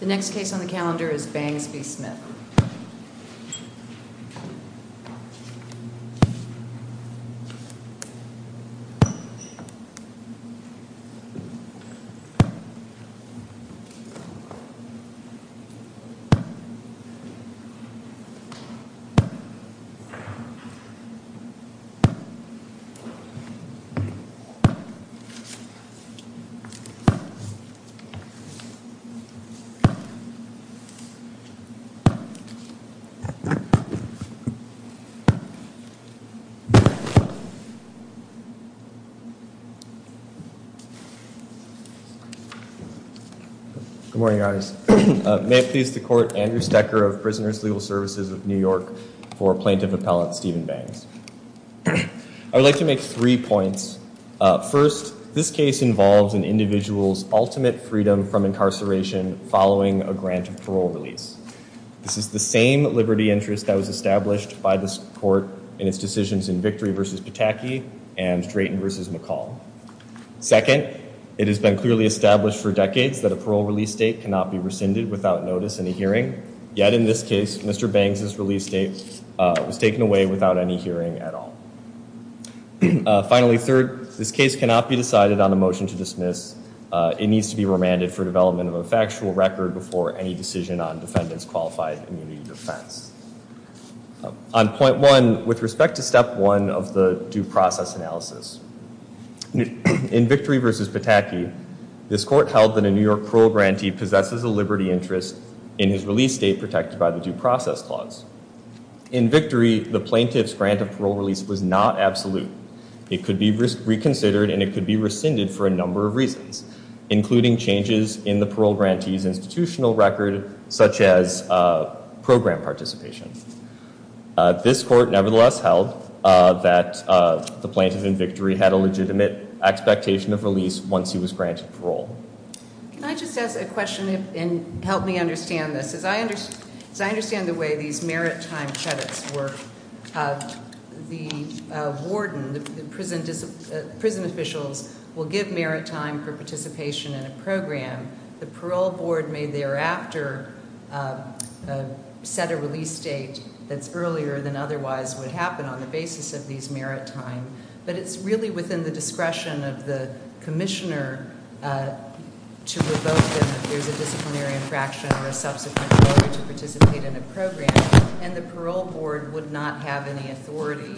The next case on the calendar is Bangs v. Smith. Good morning, guys. May it please the Court, Andrew Stecker of Prisoners' Legal Services of New York for Plaintiff Appellant Stephen Bangs. I would like to make three points. First, this case involves an individual's ultimate freedom from incarceration following a grant of parole release. This is the same liberty interest that was established by this Court in its decisions in Victory v. Pataki and Drayton v. McCall. Second, it has been clearly established for decades that a parole release date cannot be rescinded without notice in a hearing. Yet in this case, Mr. Bangs' release date was taken away without any hearing at all. Finally, third, this case cannot be decided on a motion to dismiss. It needs to be remanded for development of a factual record before any decision on defendant's qualified immunity defense. On point one, with respect to step one of the due process analysis, in Victory v. Pataki, this Court held that a New York parole grantee possesses a liberty interest in his release date protected by the due process clause. In Victory, the plaintiff's grant of parole release was not absolute. It could be reconsidered and it could be rescinded for a number of reasons, including changes in the parole grantee's institutional record, such as program participation. This Court nevertheless held that the plaintiff in Victory had a legitimate expectation of release once he was granted parole. Can I just ask a question and help me understand this? As I understand the way these merit time credits work, the warden, the prison officials, will give merit time for participation in a program. The parole board may thereafter set a release date that's earlier than otherwise would happen on the basis of these merit time. But it's really within the discretion of the commissioner to revoke them if there's a disciplinary infraction or a subsequent failure to participate in a program. And the parole board would not have any authority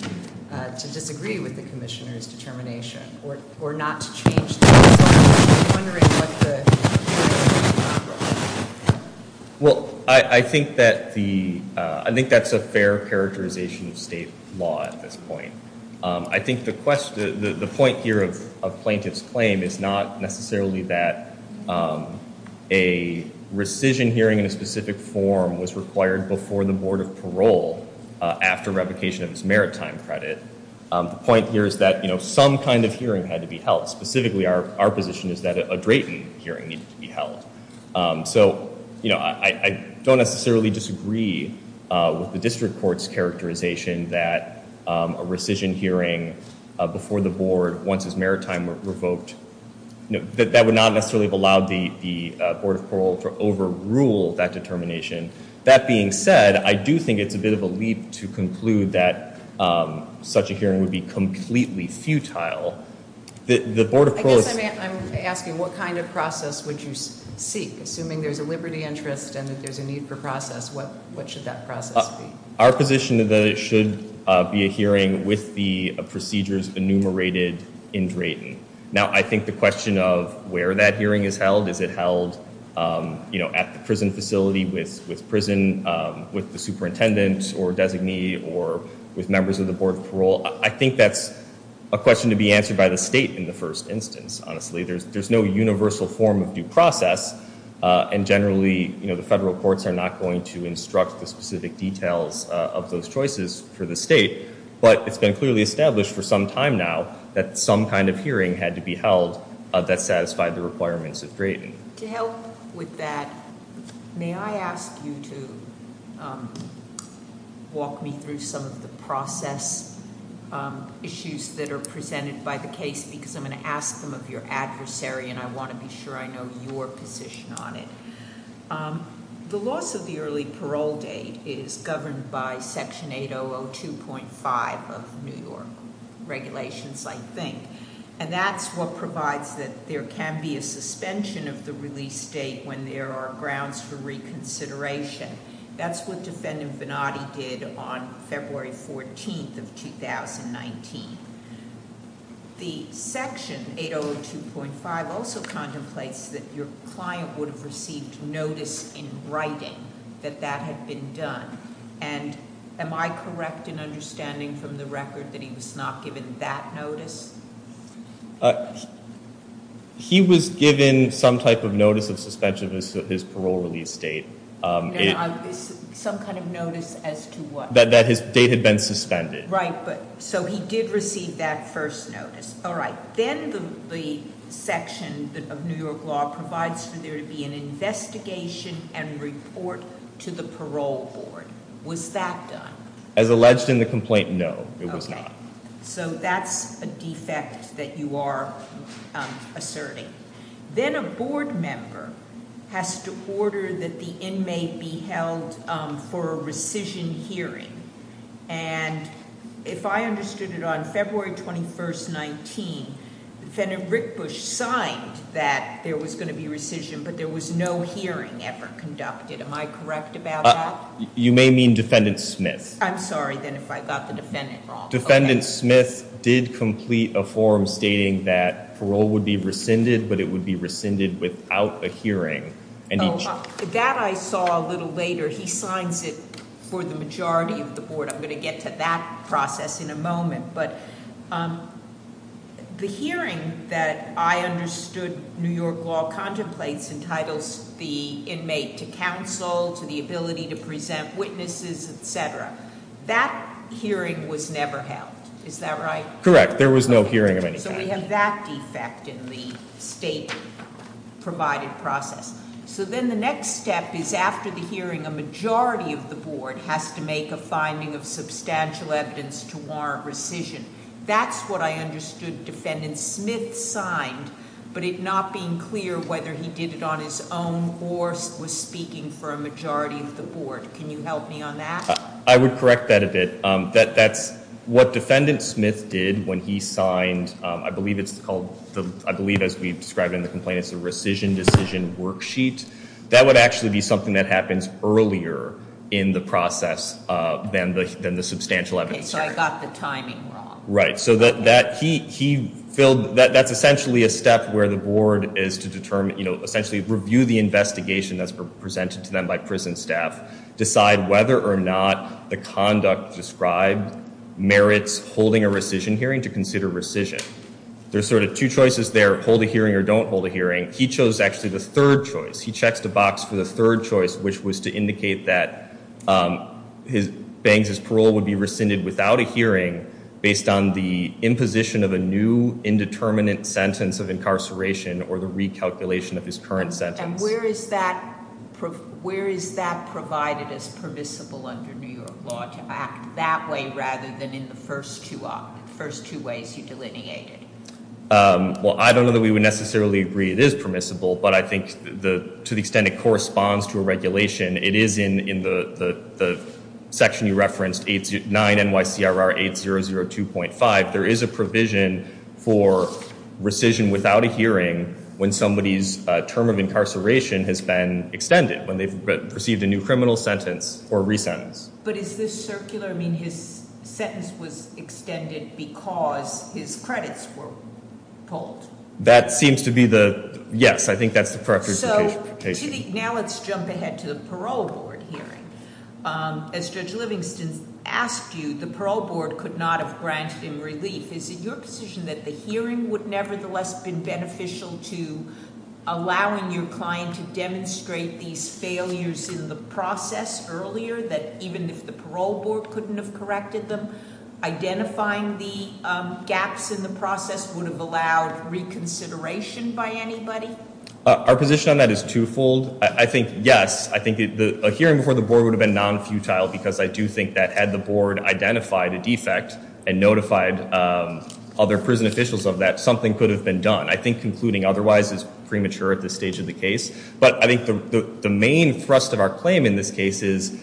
to disagree with the commissioner's determination or not to change that. So I'm just wondering what the purpose of the program is. Well, I think that's a fair characterization of state law at this point. I think the point here of plaintiff's claim is not necessarily that a rescission hearing in a specific form was required before the Board of Parole after revocation of his merit time credit. The point here is that, you know, some kind of hearing had to be held. Specifically, our position is that a Drayton hearing needed to be held. So, you know, I don't necessarily disagree with the district court's characterization that a rescission hearing before the board once his merit time were revoked. That would not necessarily have allowed the Board of Parole to overrule that determination. That being said, I do think it's a bit of a leap to conclude that such a hearing would be completely futile. I guess I'm asking what kind of process would you seek? Assuming there's a liberty interest and that there's a need for process, what should that process be? Our position is that it should be a hearing with the procedures enumerated in Drayton. Now, I think the question of where that hearing is held, is it held, you know, at the prison facility with prison, with the superintendent or designee or with members of the Board of Parole? I think that's a question to be answered by the state in the first instance. Honestly, there's no universal form of due process. And generally, you know, the federal courts are not going to instruct the specific details of those choices for the state. But it's been clearly established for some time now that some kind of hearing had to be held that satisfied the requirements of Drayton. To help with that, may I ask you to walk me through some of the process issues that are presented by the case? Because I'm going to ask them of your adversary and I want to be sure I know your position on it. The loss of the early parole date is governed by Section 8002.5 of New York regulations, I think. And that's what provides that there can be a suspension of the release date when there are grounds for reconsideration. That's what Defendant Venati did on February 14th of 2019. The Section 8002.5 also contemplates that your client would have received notice in writing that that had been done. And am I correct in understanding from the record that he was not given that notice? He was given some type of notice of suspension of his parole release date. Some kind of notice as to what? That his date had been suspended. Right, so he did receive that first notice. All right, then the section of New York law provides for there to be an investigation and report to the parole board. Was that done? As alleged in the complaint, no, it was not. So that's a defect that you are asserting. Then a board member has to order that the inmate be held for a rescission hearing. And if I understood it on February 21st, 19, Defendant Rick Bush signed that there was going to be rescission, but there was no hearing ever conducted. Am I correct about that? You may mean Defendant Smith. I'm sorry then if I got the defendant wrong. Defendant Smith did complete a form stating that parole would be rescinded, but it would be rescinded without a hearing. That I saw a little later. He signs it for the majority of the board. I'm going to get to that process in a moment. But the hearing that I understood New York law contemplates and titles the inmate to counsel, to the ability to present witnesses, etc. That hearing was never held, is that right? Correct, there was no hearing of any kind. So we have that defect in the state provided process. So then the next step is after the hearing, a majority of the board has to make a finding of substantial evidence to warrant rescission. That's what I understood Defendant Smith signed, but it not being clear whether he did it on his own or was speaking for a majority of the board. Can you help me on that? I would correct that a bit. That's what Defendant Smith did when he signed, I believe it's called, I believe as we've described in the complaint, it's a rescission decision worksheet. That would actually be something that happens earlier in the process than the substantial evidence hearing. Okay, so I got the timing wrong. Right, so that he filled, that's essentially a step where the board is to determine, essentially review the investigation that's presented to them by prison staff, decide whether or not the conduct described merits holding a rescission hearing to consider rescission. There's sort of two choices there, hold a hearing or don't hold a hearing. He chose actually the third choice. He checks the box for the third choice, which was to indicate that Banks' parole would be rescinded without a hearing based on the imposition of a new indeterminate sentence of incarceration or the recalculation of his current sentence. And where is that provided as permissible under New York law, to act that way rather than in the first two ways you delineated? Well, I don't know that we would necessarily agree it is permissible, but I think to the extent it corresponds to a regulation, it is in the section you referenced, 9 NYCRR 8002.5. There is a provision for rescission without a hearing when somebody's term of incarceration has been extended, when they've received a new criminal sentence or resentence. But is this circular? I mean, his sentence was extended because his credits were pulled. That seems to be the, yes, I think that's the correct justification. So, now let's jump ahead to the parole board hearing. As Judge Livingston asked you, the parole board could not have granted him relief. Is it your position that the hearing would nevertheless have been beneficial to allowing your client to demonstrate these failures in the process earlier, that even if the parole board couldn't have corrected them, identifying the gaps in the process would have allowed reconsideration by anybody? Our position on that is twofold. I think, yes, I think a hearing before the board would have been non-futile because I do think that had the board identified a defect and notified other prison officials of that, something could have been done. I think concluding otherwise is premature at this stage of the case. But I think the main thrust of our claim in this case is,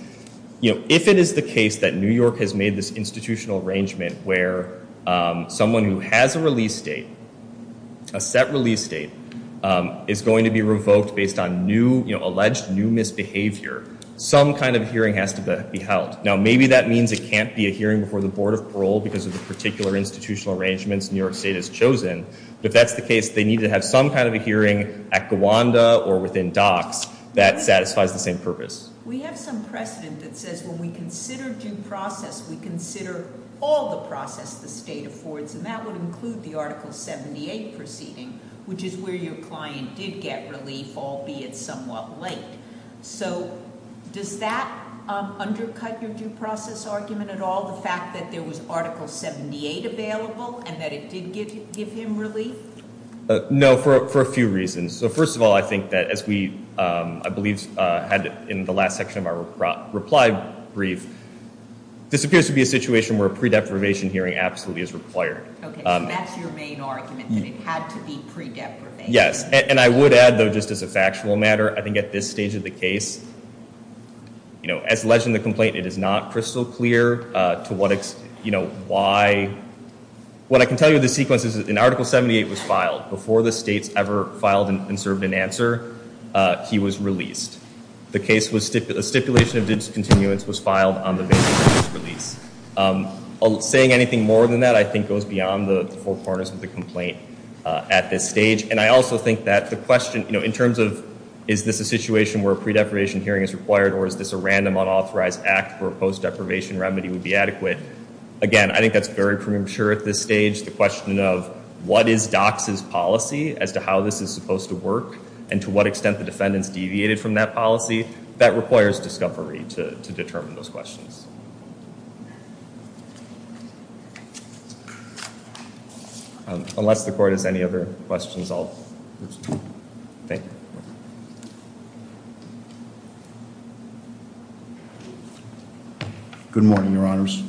you know, if it is the case that New York has made this institutional arrangement where someone who has a release date, a set release date, is going to be revoked based on new, you know, alleged new misbehavior, some kind of hearing has to be held. Now, maybe that means it can't be a hearing before the board of parole because of the particular institutional arrangements New York State has chosen. But if that's the case, they need to have some kind of a hearing at Gawanda or within DOCS that satisfies the same purpose. We have some precedent that says when we consider due process, we consider all the process the state affords. And that would include the Article 78 proceeding, which is where your client did get relief, albeit somewhat late. So does that undercut your due process argument at all, the fact that there was Article 78 available and that it did give him relief? No, for a few reasons. So first of all, I think that as we, I believe, had in the last section of our reply brief, this appears to be a situation where a pre-deprivation hearing absolutely is required. Okay, so that's your main argument, that it had to be pre-deprivation. Yes, and I would add, though, just as a factual matter, I think at this stage of the case, you know, as alleged in the complaint, it is not crystal clear to what, you know, why. What I can tell you of the sequence is that an Article 78 was filed. Before the states ever filed and served an answer, he was released. The case was, a stipulation of discontinuance was filed on the basis of his release. Saying anything more than that, I think, goes beyond the four corners of the complaint at this stage. And I also think that the question, you know, in terms of is this a situation where a pre-deprivation hearing is required or is this a random unauthorized act where a post-deprivation remedy would be adequate? Again, I think that's very premature at this stage. The question of what is DOCS's policy as to how this is supposed to work and to what extent the defendants deviated from that policy, that requires discovery to determine those questions. Unless the court has any other questions, I'll stop. Thank you. Good morning, Your Honors.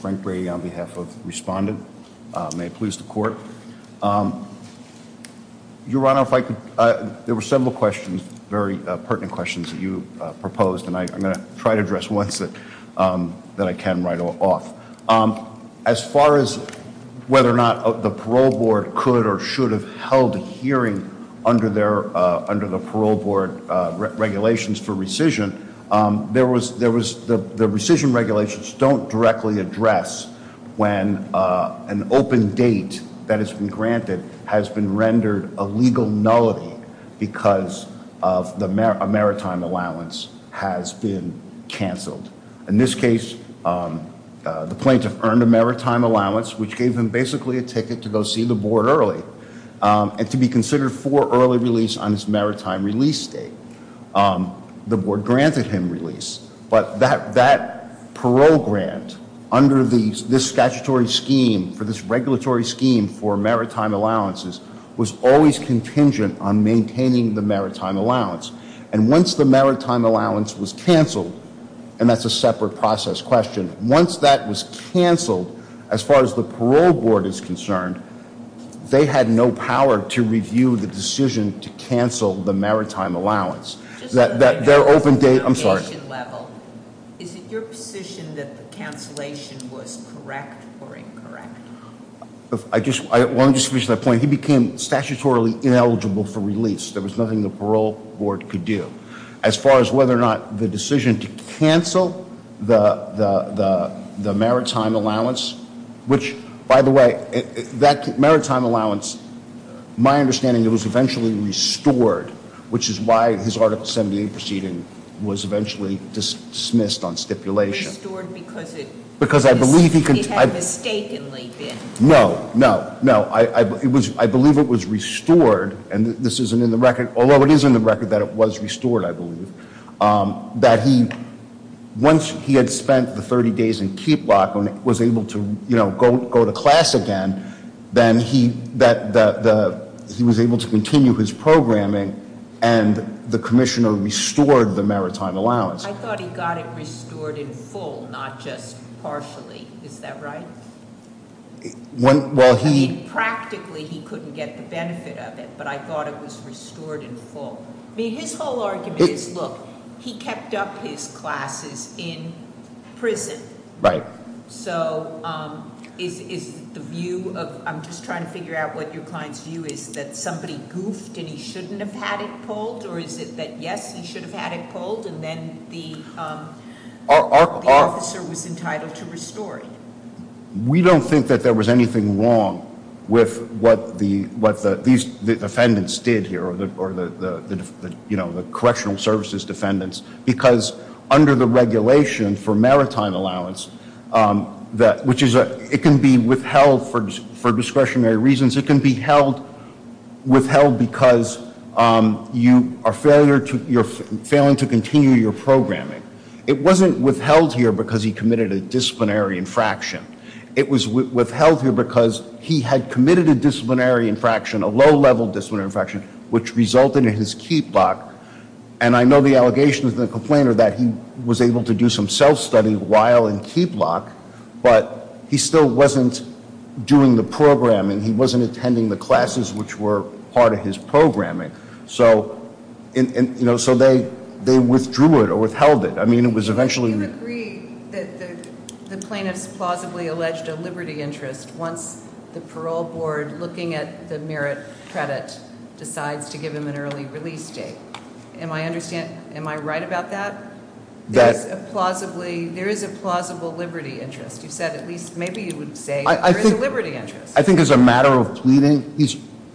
Frank Brady on behalf of Respondent. May it please the court. Your Honor, if I could, there were several pertinent questions that you proposed and I'm going to try to address the ones that I can right off. As far as whether or not the parole board could or should have held a hearing under the parole board regulations for rescission, the rescission regulations don't directly address when an open date that has been granted has been rendered a legal nullity because a maritime allowance has been canceled. In this case, the plaintiff earned a maritime allowance, which gave him basically a ticket to go see the board early and to be considered for early release on his maritime release date. The board granted him release, but that parole grant, under this statutory scheme, for this regulatory scheme for maritime allowances, was always contingent on maintaining the maritime allowance. And once the maritime allowance was canceled, and that's a separate process question, once that was canceled, as far as the parole board is concerned, they had no power to review the decision to cancel the maritime allowance. Is it your position that the cancellation was correct or incorrect? I want to just finish that point. He became statutorily ineligible for release. There was nothing the parole board could do. As far as whether or not the decision to cancel the maritime allowance, which, by the way, that maritime allowance, my understanding, it was eventually restored, which is why his Article 78 proceeding was eventually dismissed on stipulation. Restored because it had mistakenly been. No, no, no. I believe it was restored, and this isn't in the record, although it is in the record that it was restored, I believe, that once he had spent the 30 days in keep lock and was able to go to class again, then he was able to continue his programming, and the commissioner restored the maritime allowance. I thought he got it restored in full, not just partially. Is that right? Practically, he couldn't get the benefit of it, but I thought it was restored in full. I mean, his whole argument is, look, he kept up his classes in prison. Right. So is the view of, I'm just trying to figure out what your client's view is, that somebody goofed and he shouldn't have had it pulled, or is it that, yes, he should have had it pulled, and then the officer was entitled to restore it? We don't think that there was anything wrong with what these defendants did here, or the correctional services defendants, because under the regulation for maritime allowance, which it can be withheld for discretionary reasons, it can be withheld because you are failing to continue your programming. It wasn't withheld here because he committed a disciplinary infraction. It was withheld here because he had committed a disciplinary infraction, a low-level disciplinary infraction, which resulted in his keep lock, and I know the allegation of the complainer that he was able to do some self-study while in keep lock, but he still wasn't doing the programming. He wasn't attending the classes, which were part of his programming. So they withdrew it or withheld it. I mean, it was eventually ---- You agree that the plaintiffs plausibly alleged a liberty interest once the parole board, looking at the merit credit, decides to give him an early release date. Am I right about that? There is a plausible liberty interest. You said at least maybe you would say there is a liberty interest. I think as a matter of pleading,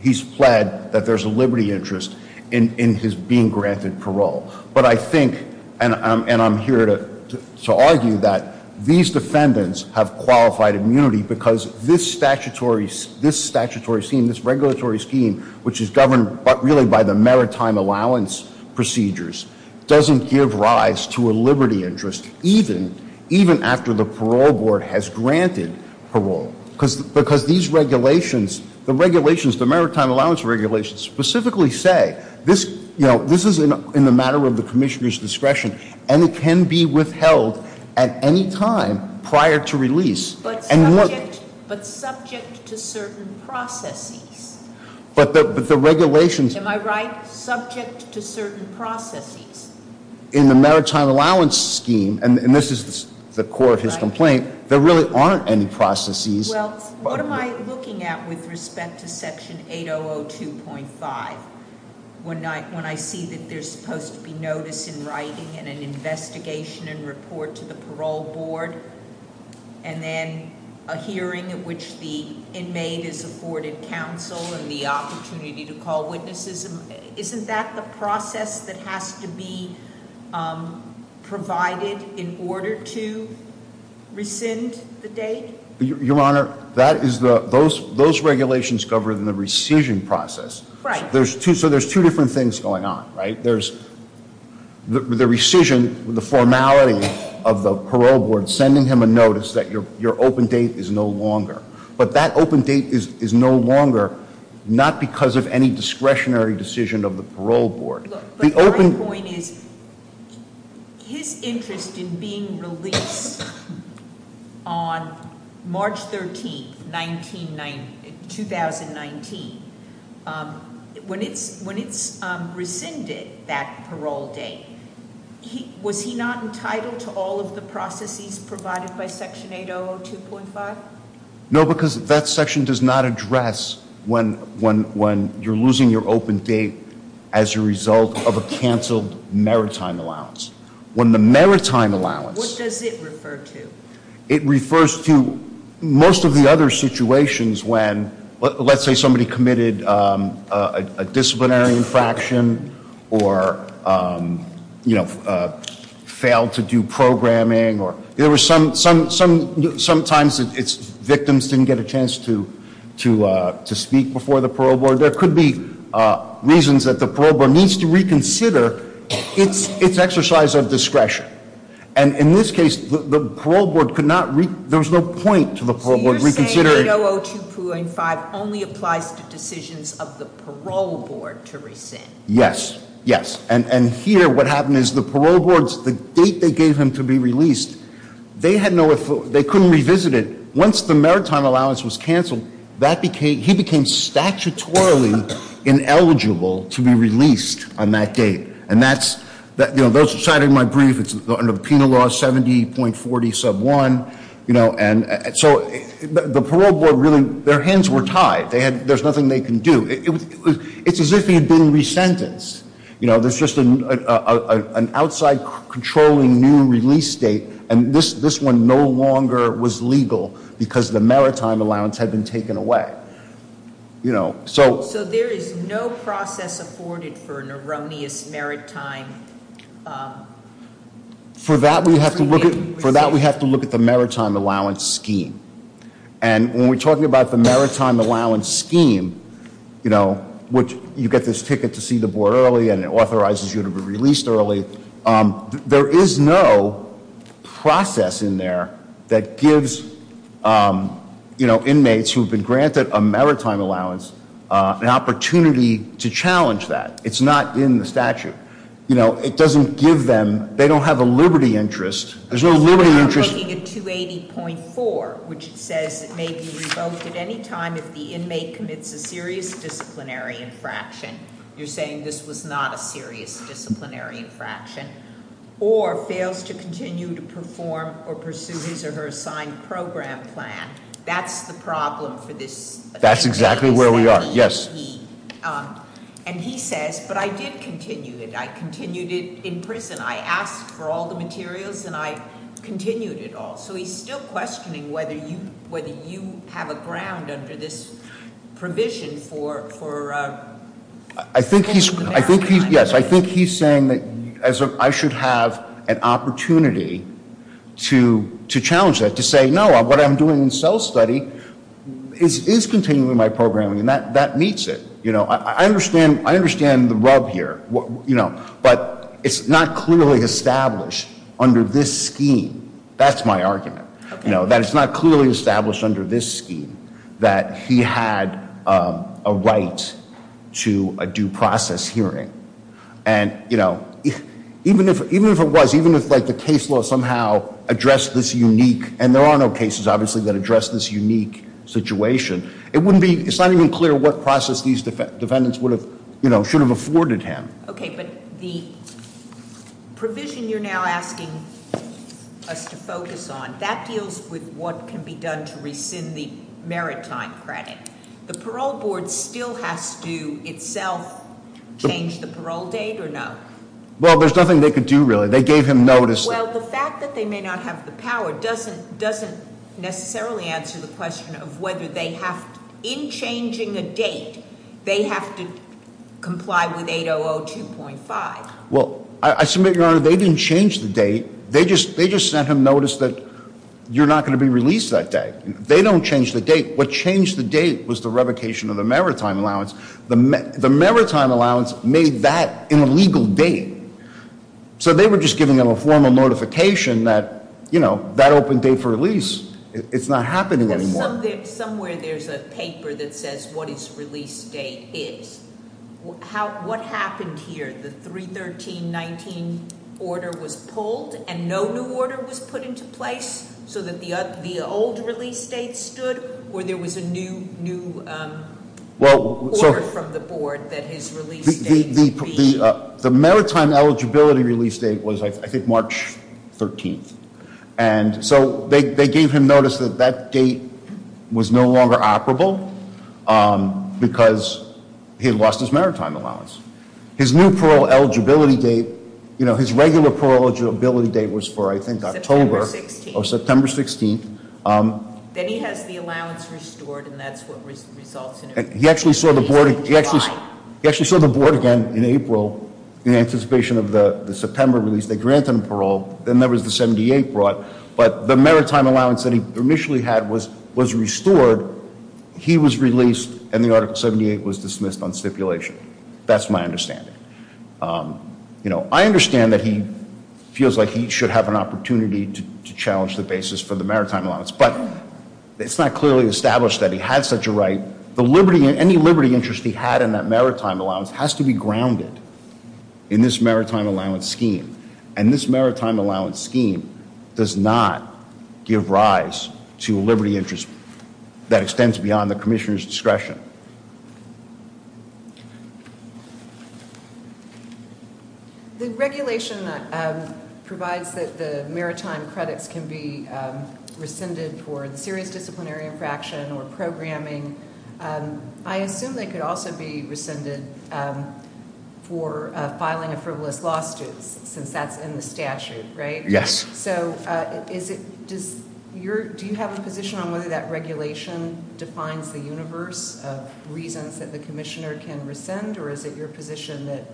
he's pled that there's a liberty interest in his being granted parole. But I think, and I'm here to argue that these defendants have qualified immunity because this statutory scheme, this regulatory scheme, which is governed really by the maritime allowance procedures, doesn't give rise to a liberty interest even after the parole board has granted parole. Because these regulations, the regulations, the maritime allowance regulations specifically say this is in the matter of the commissioner's discretion and it can be withheld at any time prior to release. But subject to certain processes. But the regulations ---- Am I right? Subject to certain processes. In the maritime allowance scheme, and this is the core of his complaint, there really aren't any processes. Well, what am I looking at with respect to Section 8002.5 when I see that there's supposed to be notice in writing and an investigation and report to the parole board and then a hearing at which the inmate is afforded counsel and the opportunity to call witnesses. Isn't that the process that has to be provided in order to rescind the date? Your Honor, those regulations govern the rescission process. Right. So there's two different things going on, right? There's the rescission, the formality of the parole board sending him a notice that your open date is no longer. But that open date is no longer, not because of any discretionary decision of the parole board. But my point is his interest in being released on March 13, 2019, when it's rescinded that parole date, was he not entitled to all of the processes provided by Section 8002.5? No, because that section does not address when you're losing your open date as a result of a canceled maritime allowance. When the maritime allowance. What does it refer to? It refers to most of the other situations when, let's say somebody committed a disciplinary infraction or failed to do programming. Sometimes victims didn't get a chance to speak before the parole board. There could be reasons that the parole board needs to reconsider its exercise of discretion. And in this case, the parole board could not, there was no point to the parole board reconsidering. Section 8002.5 only applies to decisions of the parole board to rescind. Yes, yes, and here what happened is the parole board's, the date they gave him to be released, they couldn't revisit it. Once the maritime allowance was canceled, he became statutorily ineligible to be released on that date. And that's, those who cited my brief, it's under Penal Law 70.40 sub 1. You know, and so the parole board really, their hands were tied. They had, there's nothing they can do. It's as if he had been resentenced. You know, there's just an outside controlling new release date. And this one no longer was legal because the maritime allowance had been taken away. You know, so. So there is no process afforded for an erroneous maritime. For that we have to look at, for that we have to look at the maritime allowance scheme. And when we're talking about the maritime allowance scheme, you know, which you get this ticket to see the board early and it authorizes you to be released early. There is no process in there that gives, you know, inmates who have been granted a maritime allowance an opportunity to challenge that. It's not in the statute. You know, it doesn't give them, they don't have a liberty interest. There's no liberty interest. I'm looking at 280.4, which says it may be revoked at any time if the inmate commits a serious disciplinary infraction. You're saying this was not a serious disciplinary infraction. Or fails to continue to perform or pursue his or her assigned program plan. That's the problem for this. That's exactly where we are, yes. And he says, but I did continue it. I continued it in prison. I asked for all the materials and I continued it all. So he's still questioning whether you have a ground under this provision for. I think he's, yes, I think he's saying that I should have an opportunity to challenge that. To say no, what I'm doing in cell study is continuing my programming. And that meets it. You know, I understand the rub here. But it's not clearly established under this scheme. That's my argument. That it's not clearly established under this scheme that he had a right to a due process hearing. And, you know, even if it was, even if the case law somehow addressed this unique. And there are no cases, obviously, that address this unique situation. It wouldn't be, it's not even clear what process these defendants would have, you know, should have afforded him. Okay, but the provision you're now asking us to focus on. That deals with what can be done to rescind the merit time credit. The parole board still has to itself change the parole date or no? Well, there's nothing they could do really. They gave him notice. Well, the fact that they may not have the power doesn't necessarily answer the question of whether they have, in changing a date, they have to comply with 8002.5. Well, I submit, Your Honor, they didn't change the date. They just sent him notice that you're not going to be released that day. They don't change the date. What changed the date was the revocation of the merit time allowance. The merit time allowance made that an illegal date. So they were just giving him a formal notification that, you know, that open date for release, it's not happening anymore. Somewhere there's a paper that says what his release date is. What happened here? The 31319 order was pulled and no new order was put into place so that the old release date stood or there was a new order from the board that his release date should be? The merit time eligibility release date was, I think, March 13th. And so they gave him notice that that date was no longer operable because he had lost his merit time allowance. His new parole eligibility date, you know, his regular parole eligibility date was for, I think, October. September 16th. Or September 16th. Then he has the allowance restored and that's what results in it. He actually saw the board again in April in anticipation of the September release. They granted him parole. Then there was the 78 brought. But the merit time allowance that he initially had was restored. He was released and the article 78 was dismissed on stipulation. That's my understanding. You know, I understand that he feels like he should have an opportunity to challenge the basis for the merit time allowance. But it's not clearly established that he had such a right. The liberty, any liberty interest he had in that merit time allowance has to be grounded in this merit time allowance scheme. And this merit time allowance scheme does not give rise to liberty interest that extends beyond the commissioner's discretion. The regulation provides that the merit time credits can be rescinded for the serious disciplinary infraction or programming. I assume they could also be rescinded for filing a frivolous lawsuit since that's in the statute, right? Yes. So do you have a position on whether that regulation defines the universe of reasons that the commissioner can rescind? Or is it your position that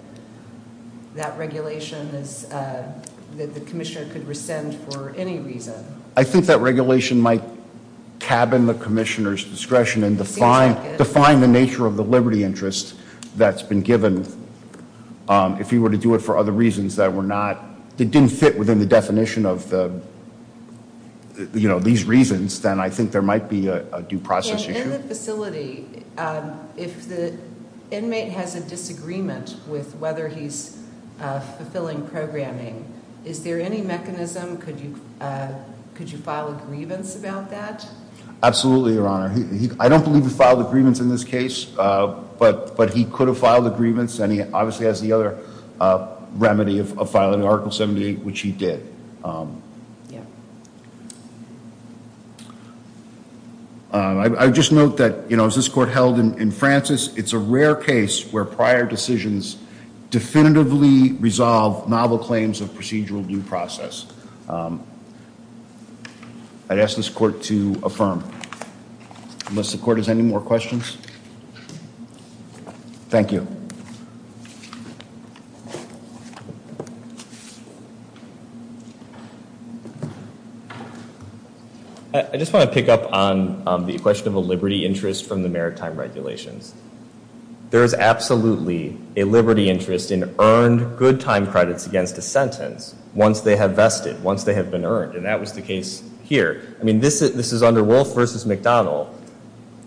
that regulation is that the commissioner could rescind for any reason? I think that regulation might cabin the commissioner's discretion and define the nature of the liberty interest that's been given. If he were to do it for other reasons that didn't fit within the definition of these reasons, then I think there might be a due process issue. In the facility, if the inmate has a disagreement with whether he's fulfilling programming, is there any mechanism? Could you file a grievance about that? Absolutely, Your Honor. I don't believe he filed a grievance in this case, but he could have filed a grievance, and he obviously has the other remedy of filing Article 78, which he did. I would just note that, you know, as this Court held in Francis, it's a rare case where prior decisions definitively resolve novel claims of procedural due process. I'd ask this Court to affirm. Unless the Court has any more questions? Thank you. I just want to pick up on the question of a liberty interest from the maritime regulations. There is absolutely a liberty interest in earned good time credits against a sentence once they have vested, once they have been earned, and that was the case here. I mean, this is under Wolf v. McDonald.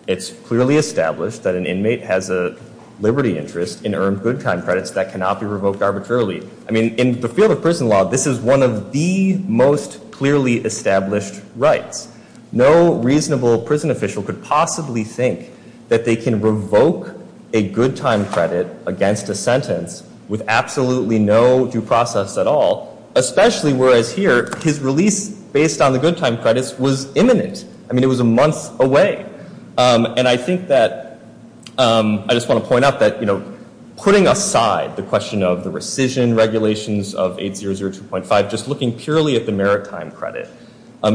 It's clearly established that an inmate has a liberty interest in earned good time credits that cannot be revoked arbitrarily. I mean, in the field of prison law, this is one of the most clearly established rights. No reasonable prison official could possibly think that they can revoke a good time credit against a sentence with absolutely no due process at all, especially whereas here, his release based on the good time credits was imminent. I mean, it was a month away. And I think that I just want to point out that, you know, putting aside the question of the rescission regulations of 8002.5, just looking purely at the maritime credit,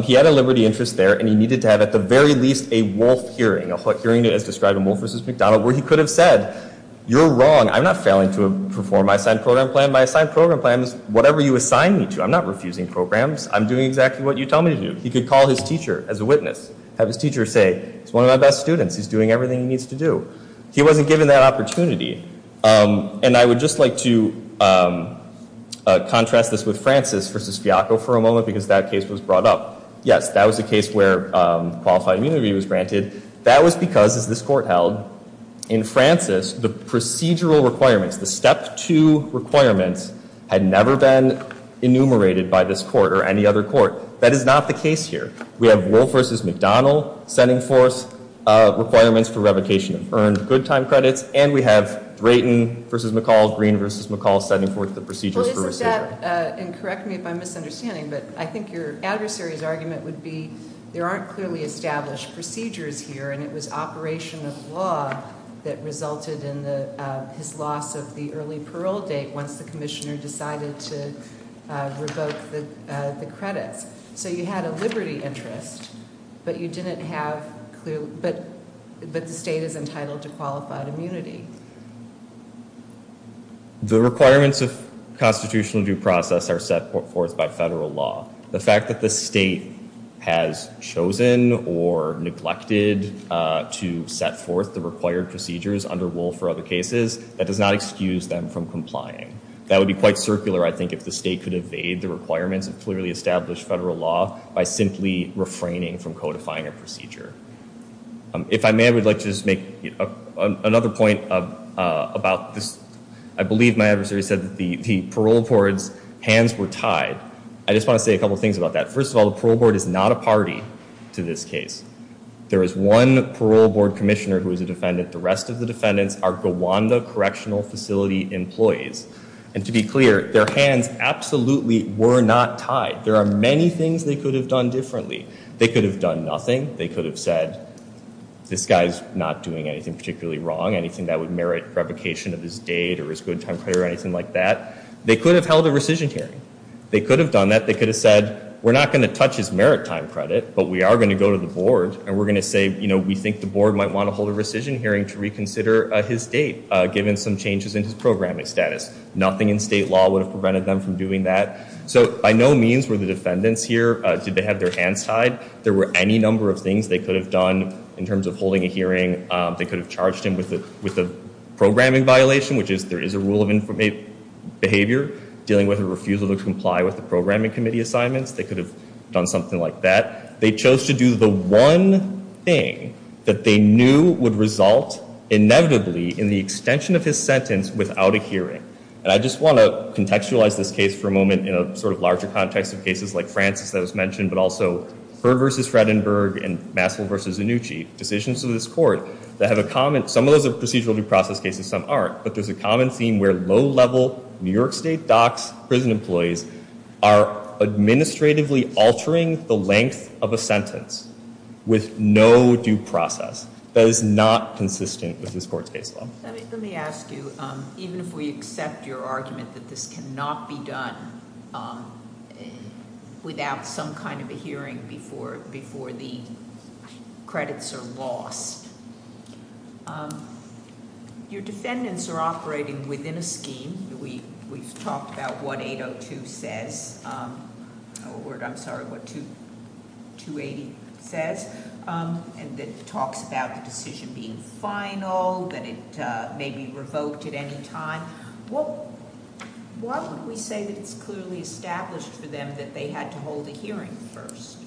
he had a liberty interest there, and he needed to have at the very least a Wolf hearing, a hearing as described in Wolf v. McDonald, where he could have said, you're wrong. I'm not failing to perform my assigned program plan. My assigned program plan is whatever you assign me to. I'm not refusing programs. I'm doing exactly what you tell me to do. He could call his teacher as a witness, have his teacher say, he's one of my best students. He's doing everything he needs to do. He wasn't given that opportunity. And I would just like to contrast this with Francis v. Fiaco for a moment, because that case was brought up. Yes, that was a case where qualified immunity was granted. That was because, as this court held, in Francis, the procedural requirements, the step two requirements had never been enumerated by this court or any other court. That is not the case here. We have Wolf v. McDonald setting forth requirements for revocation of earned good time credits, and we have Drayton v. McCall, Green v. McCall, setting forth the procedures for recidivism. And correct me if I'm misunderstanding, but I think your adversary's argument would be there aren't clearly established procedures here, and it was operation of law that resulted in his loss of the early parole date once the commissioner decided to revoke the credits. So you had a liberty interest, but the state is entitled to qualified immunity. The requirements of constitutional due process are set forth by federal law. The fact that the state has chosen or neglected to set forth the required procedures under Wolf or other cases, that does not excuse them from complying. That would be quite circular, I think, if the state could evade the requirements of clearly established federal law by simply refraining from codifying a procedure. If I may, I would like to just make another point about this. I believe my adversary said that the parole board's hands were tied. I just want to say a couple things about that. First of all, the parole board is not a party to this case. There is one parole board commissioner who is a defendant. The rest of the defendants are Gawanda Correctional Facility employees. And to be clear, their hands absolutely were not tied. There are many things they could have done differently. They could have done nothing. They could have said, this guy's not doing anything particularly wrong, anything that would merit revocation of his date or his good time credit or anything like that. They could have held a rescission hearing. They could have done that. They could have said, we're not going to touch his merit time credit, but we are going to go to the board, and we're going to say we think the board might want to hold a rescission hearing to reconsider his date, given some changes in his programming status. Nothing in state law would have prevented them from doing that. So by no means were the defendants here, did they have their hands tied. There were any number of things they could have done in terms of holding a hearing. They could have charged him with a programming violation, which is there is a rule of behavior, dealing with a refusal to comply with the programming committee assignments. They could have done something like that. They chose to do the one thing that they knew would result inevitably in the extension of his sentence without a hearing. And I just want to contextualize this case for a moment in a sort of larger context of cases like Francis that was mentioned, but also Heard v. Fredenberg and Maskell v. Annucci, decisions of this court that have a common, some of those are procedural due process cases, some aren't, but there's a common theme where low-level New York State docs, prison employees, are administratively altering the length of a sentence with no due process. That is not consistent with this court's case law. Let me ask you, even if we accept your argument that this cannot be done without some kind of a hearing before the credits are lost, your defendants are operating within a scheme. We've talked about what 802 says, or I'm sorry, what 280 says, and it talks about the decision being final, that it may be revoked at any time. Why would we say that it's clearly established for them that they had to hold a hearing first?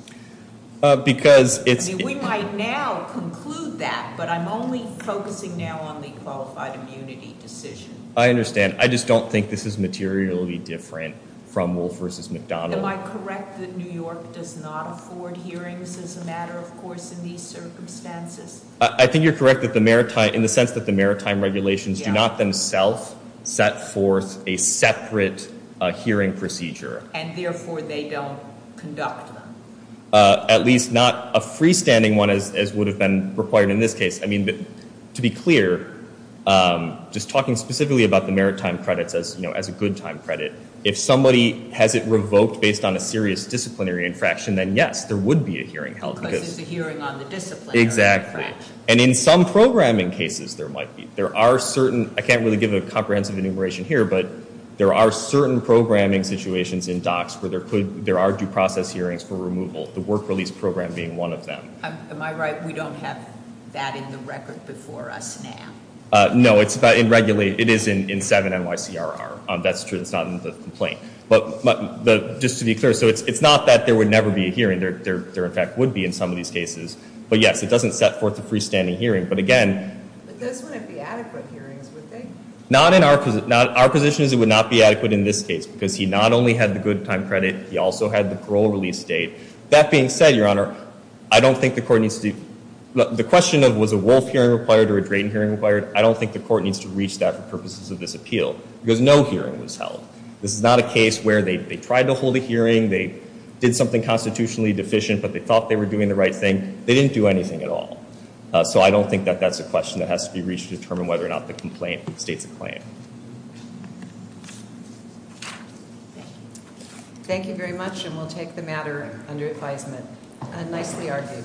Because it's- We might now conclude that, but I'm only focusing now on the qualified immunity decision. I understand. I just don't think this is materially different from Wolf v. McDonald. Am I correct that New York does not afford hearings as a matter of course in these circumstances? I think you're correct in the sense that the maritime regulations do not themselves set forth a separate hearing procedure. And therefore, they don't conduct them. At least not a freestanding one as would have been required in this case. I mean, to be clear, just talking specifically about the maritime credits as a good time credit, if somebody has it revoked based on a serious disciplinary infraction, then yes, there would be a hearing held. Because it's a hearing on the disciplinary infraction. Exactly. And in some programming cases, there might be. There are certain, I can't really give a comprehensive enumeration here, but there are certain programming situations in DOCS where there are due process hearings for removal. The work release program being one of them. Am I right we don't have that in the record before us now? No, it is in 7 NYCRR. That's true. It's not in the complaint. But just to be clear, so it's not that there would never be a hearing. There in fact would be in some of these cases. But yes, it doesn't set forth a freestanding hearing. But again. But those wouldn't be adequate hearings, would they? Not in our position. Our position is it would not be adequate in this case. Because he not only had the good time credit, he also had the parole release date. That being said, Your Honor, I don't think the court needs to. The question of was a Wolf hearing required or a Drayton hearing required, I don't think the court needs to reach that for purposes of this appeal. Because no hearing was held. This is not a case where they tried to hold a hearing, they did something constitutionally deficient, but they thought they were doing the right thing. They didn't do anything at all. So I don't think that that's a question that has to be reached to determine whether or not the complaint states a claim. Thank you very much, and we'll take the matter under advisement. Nicely argued.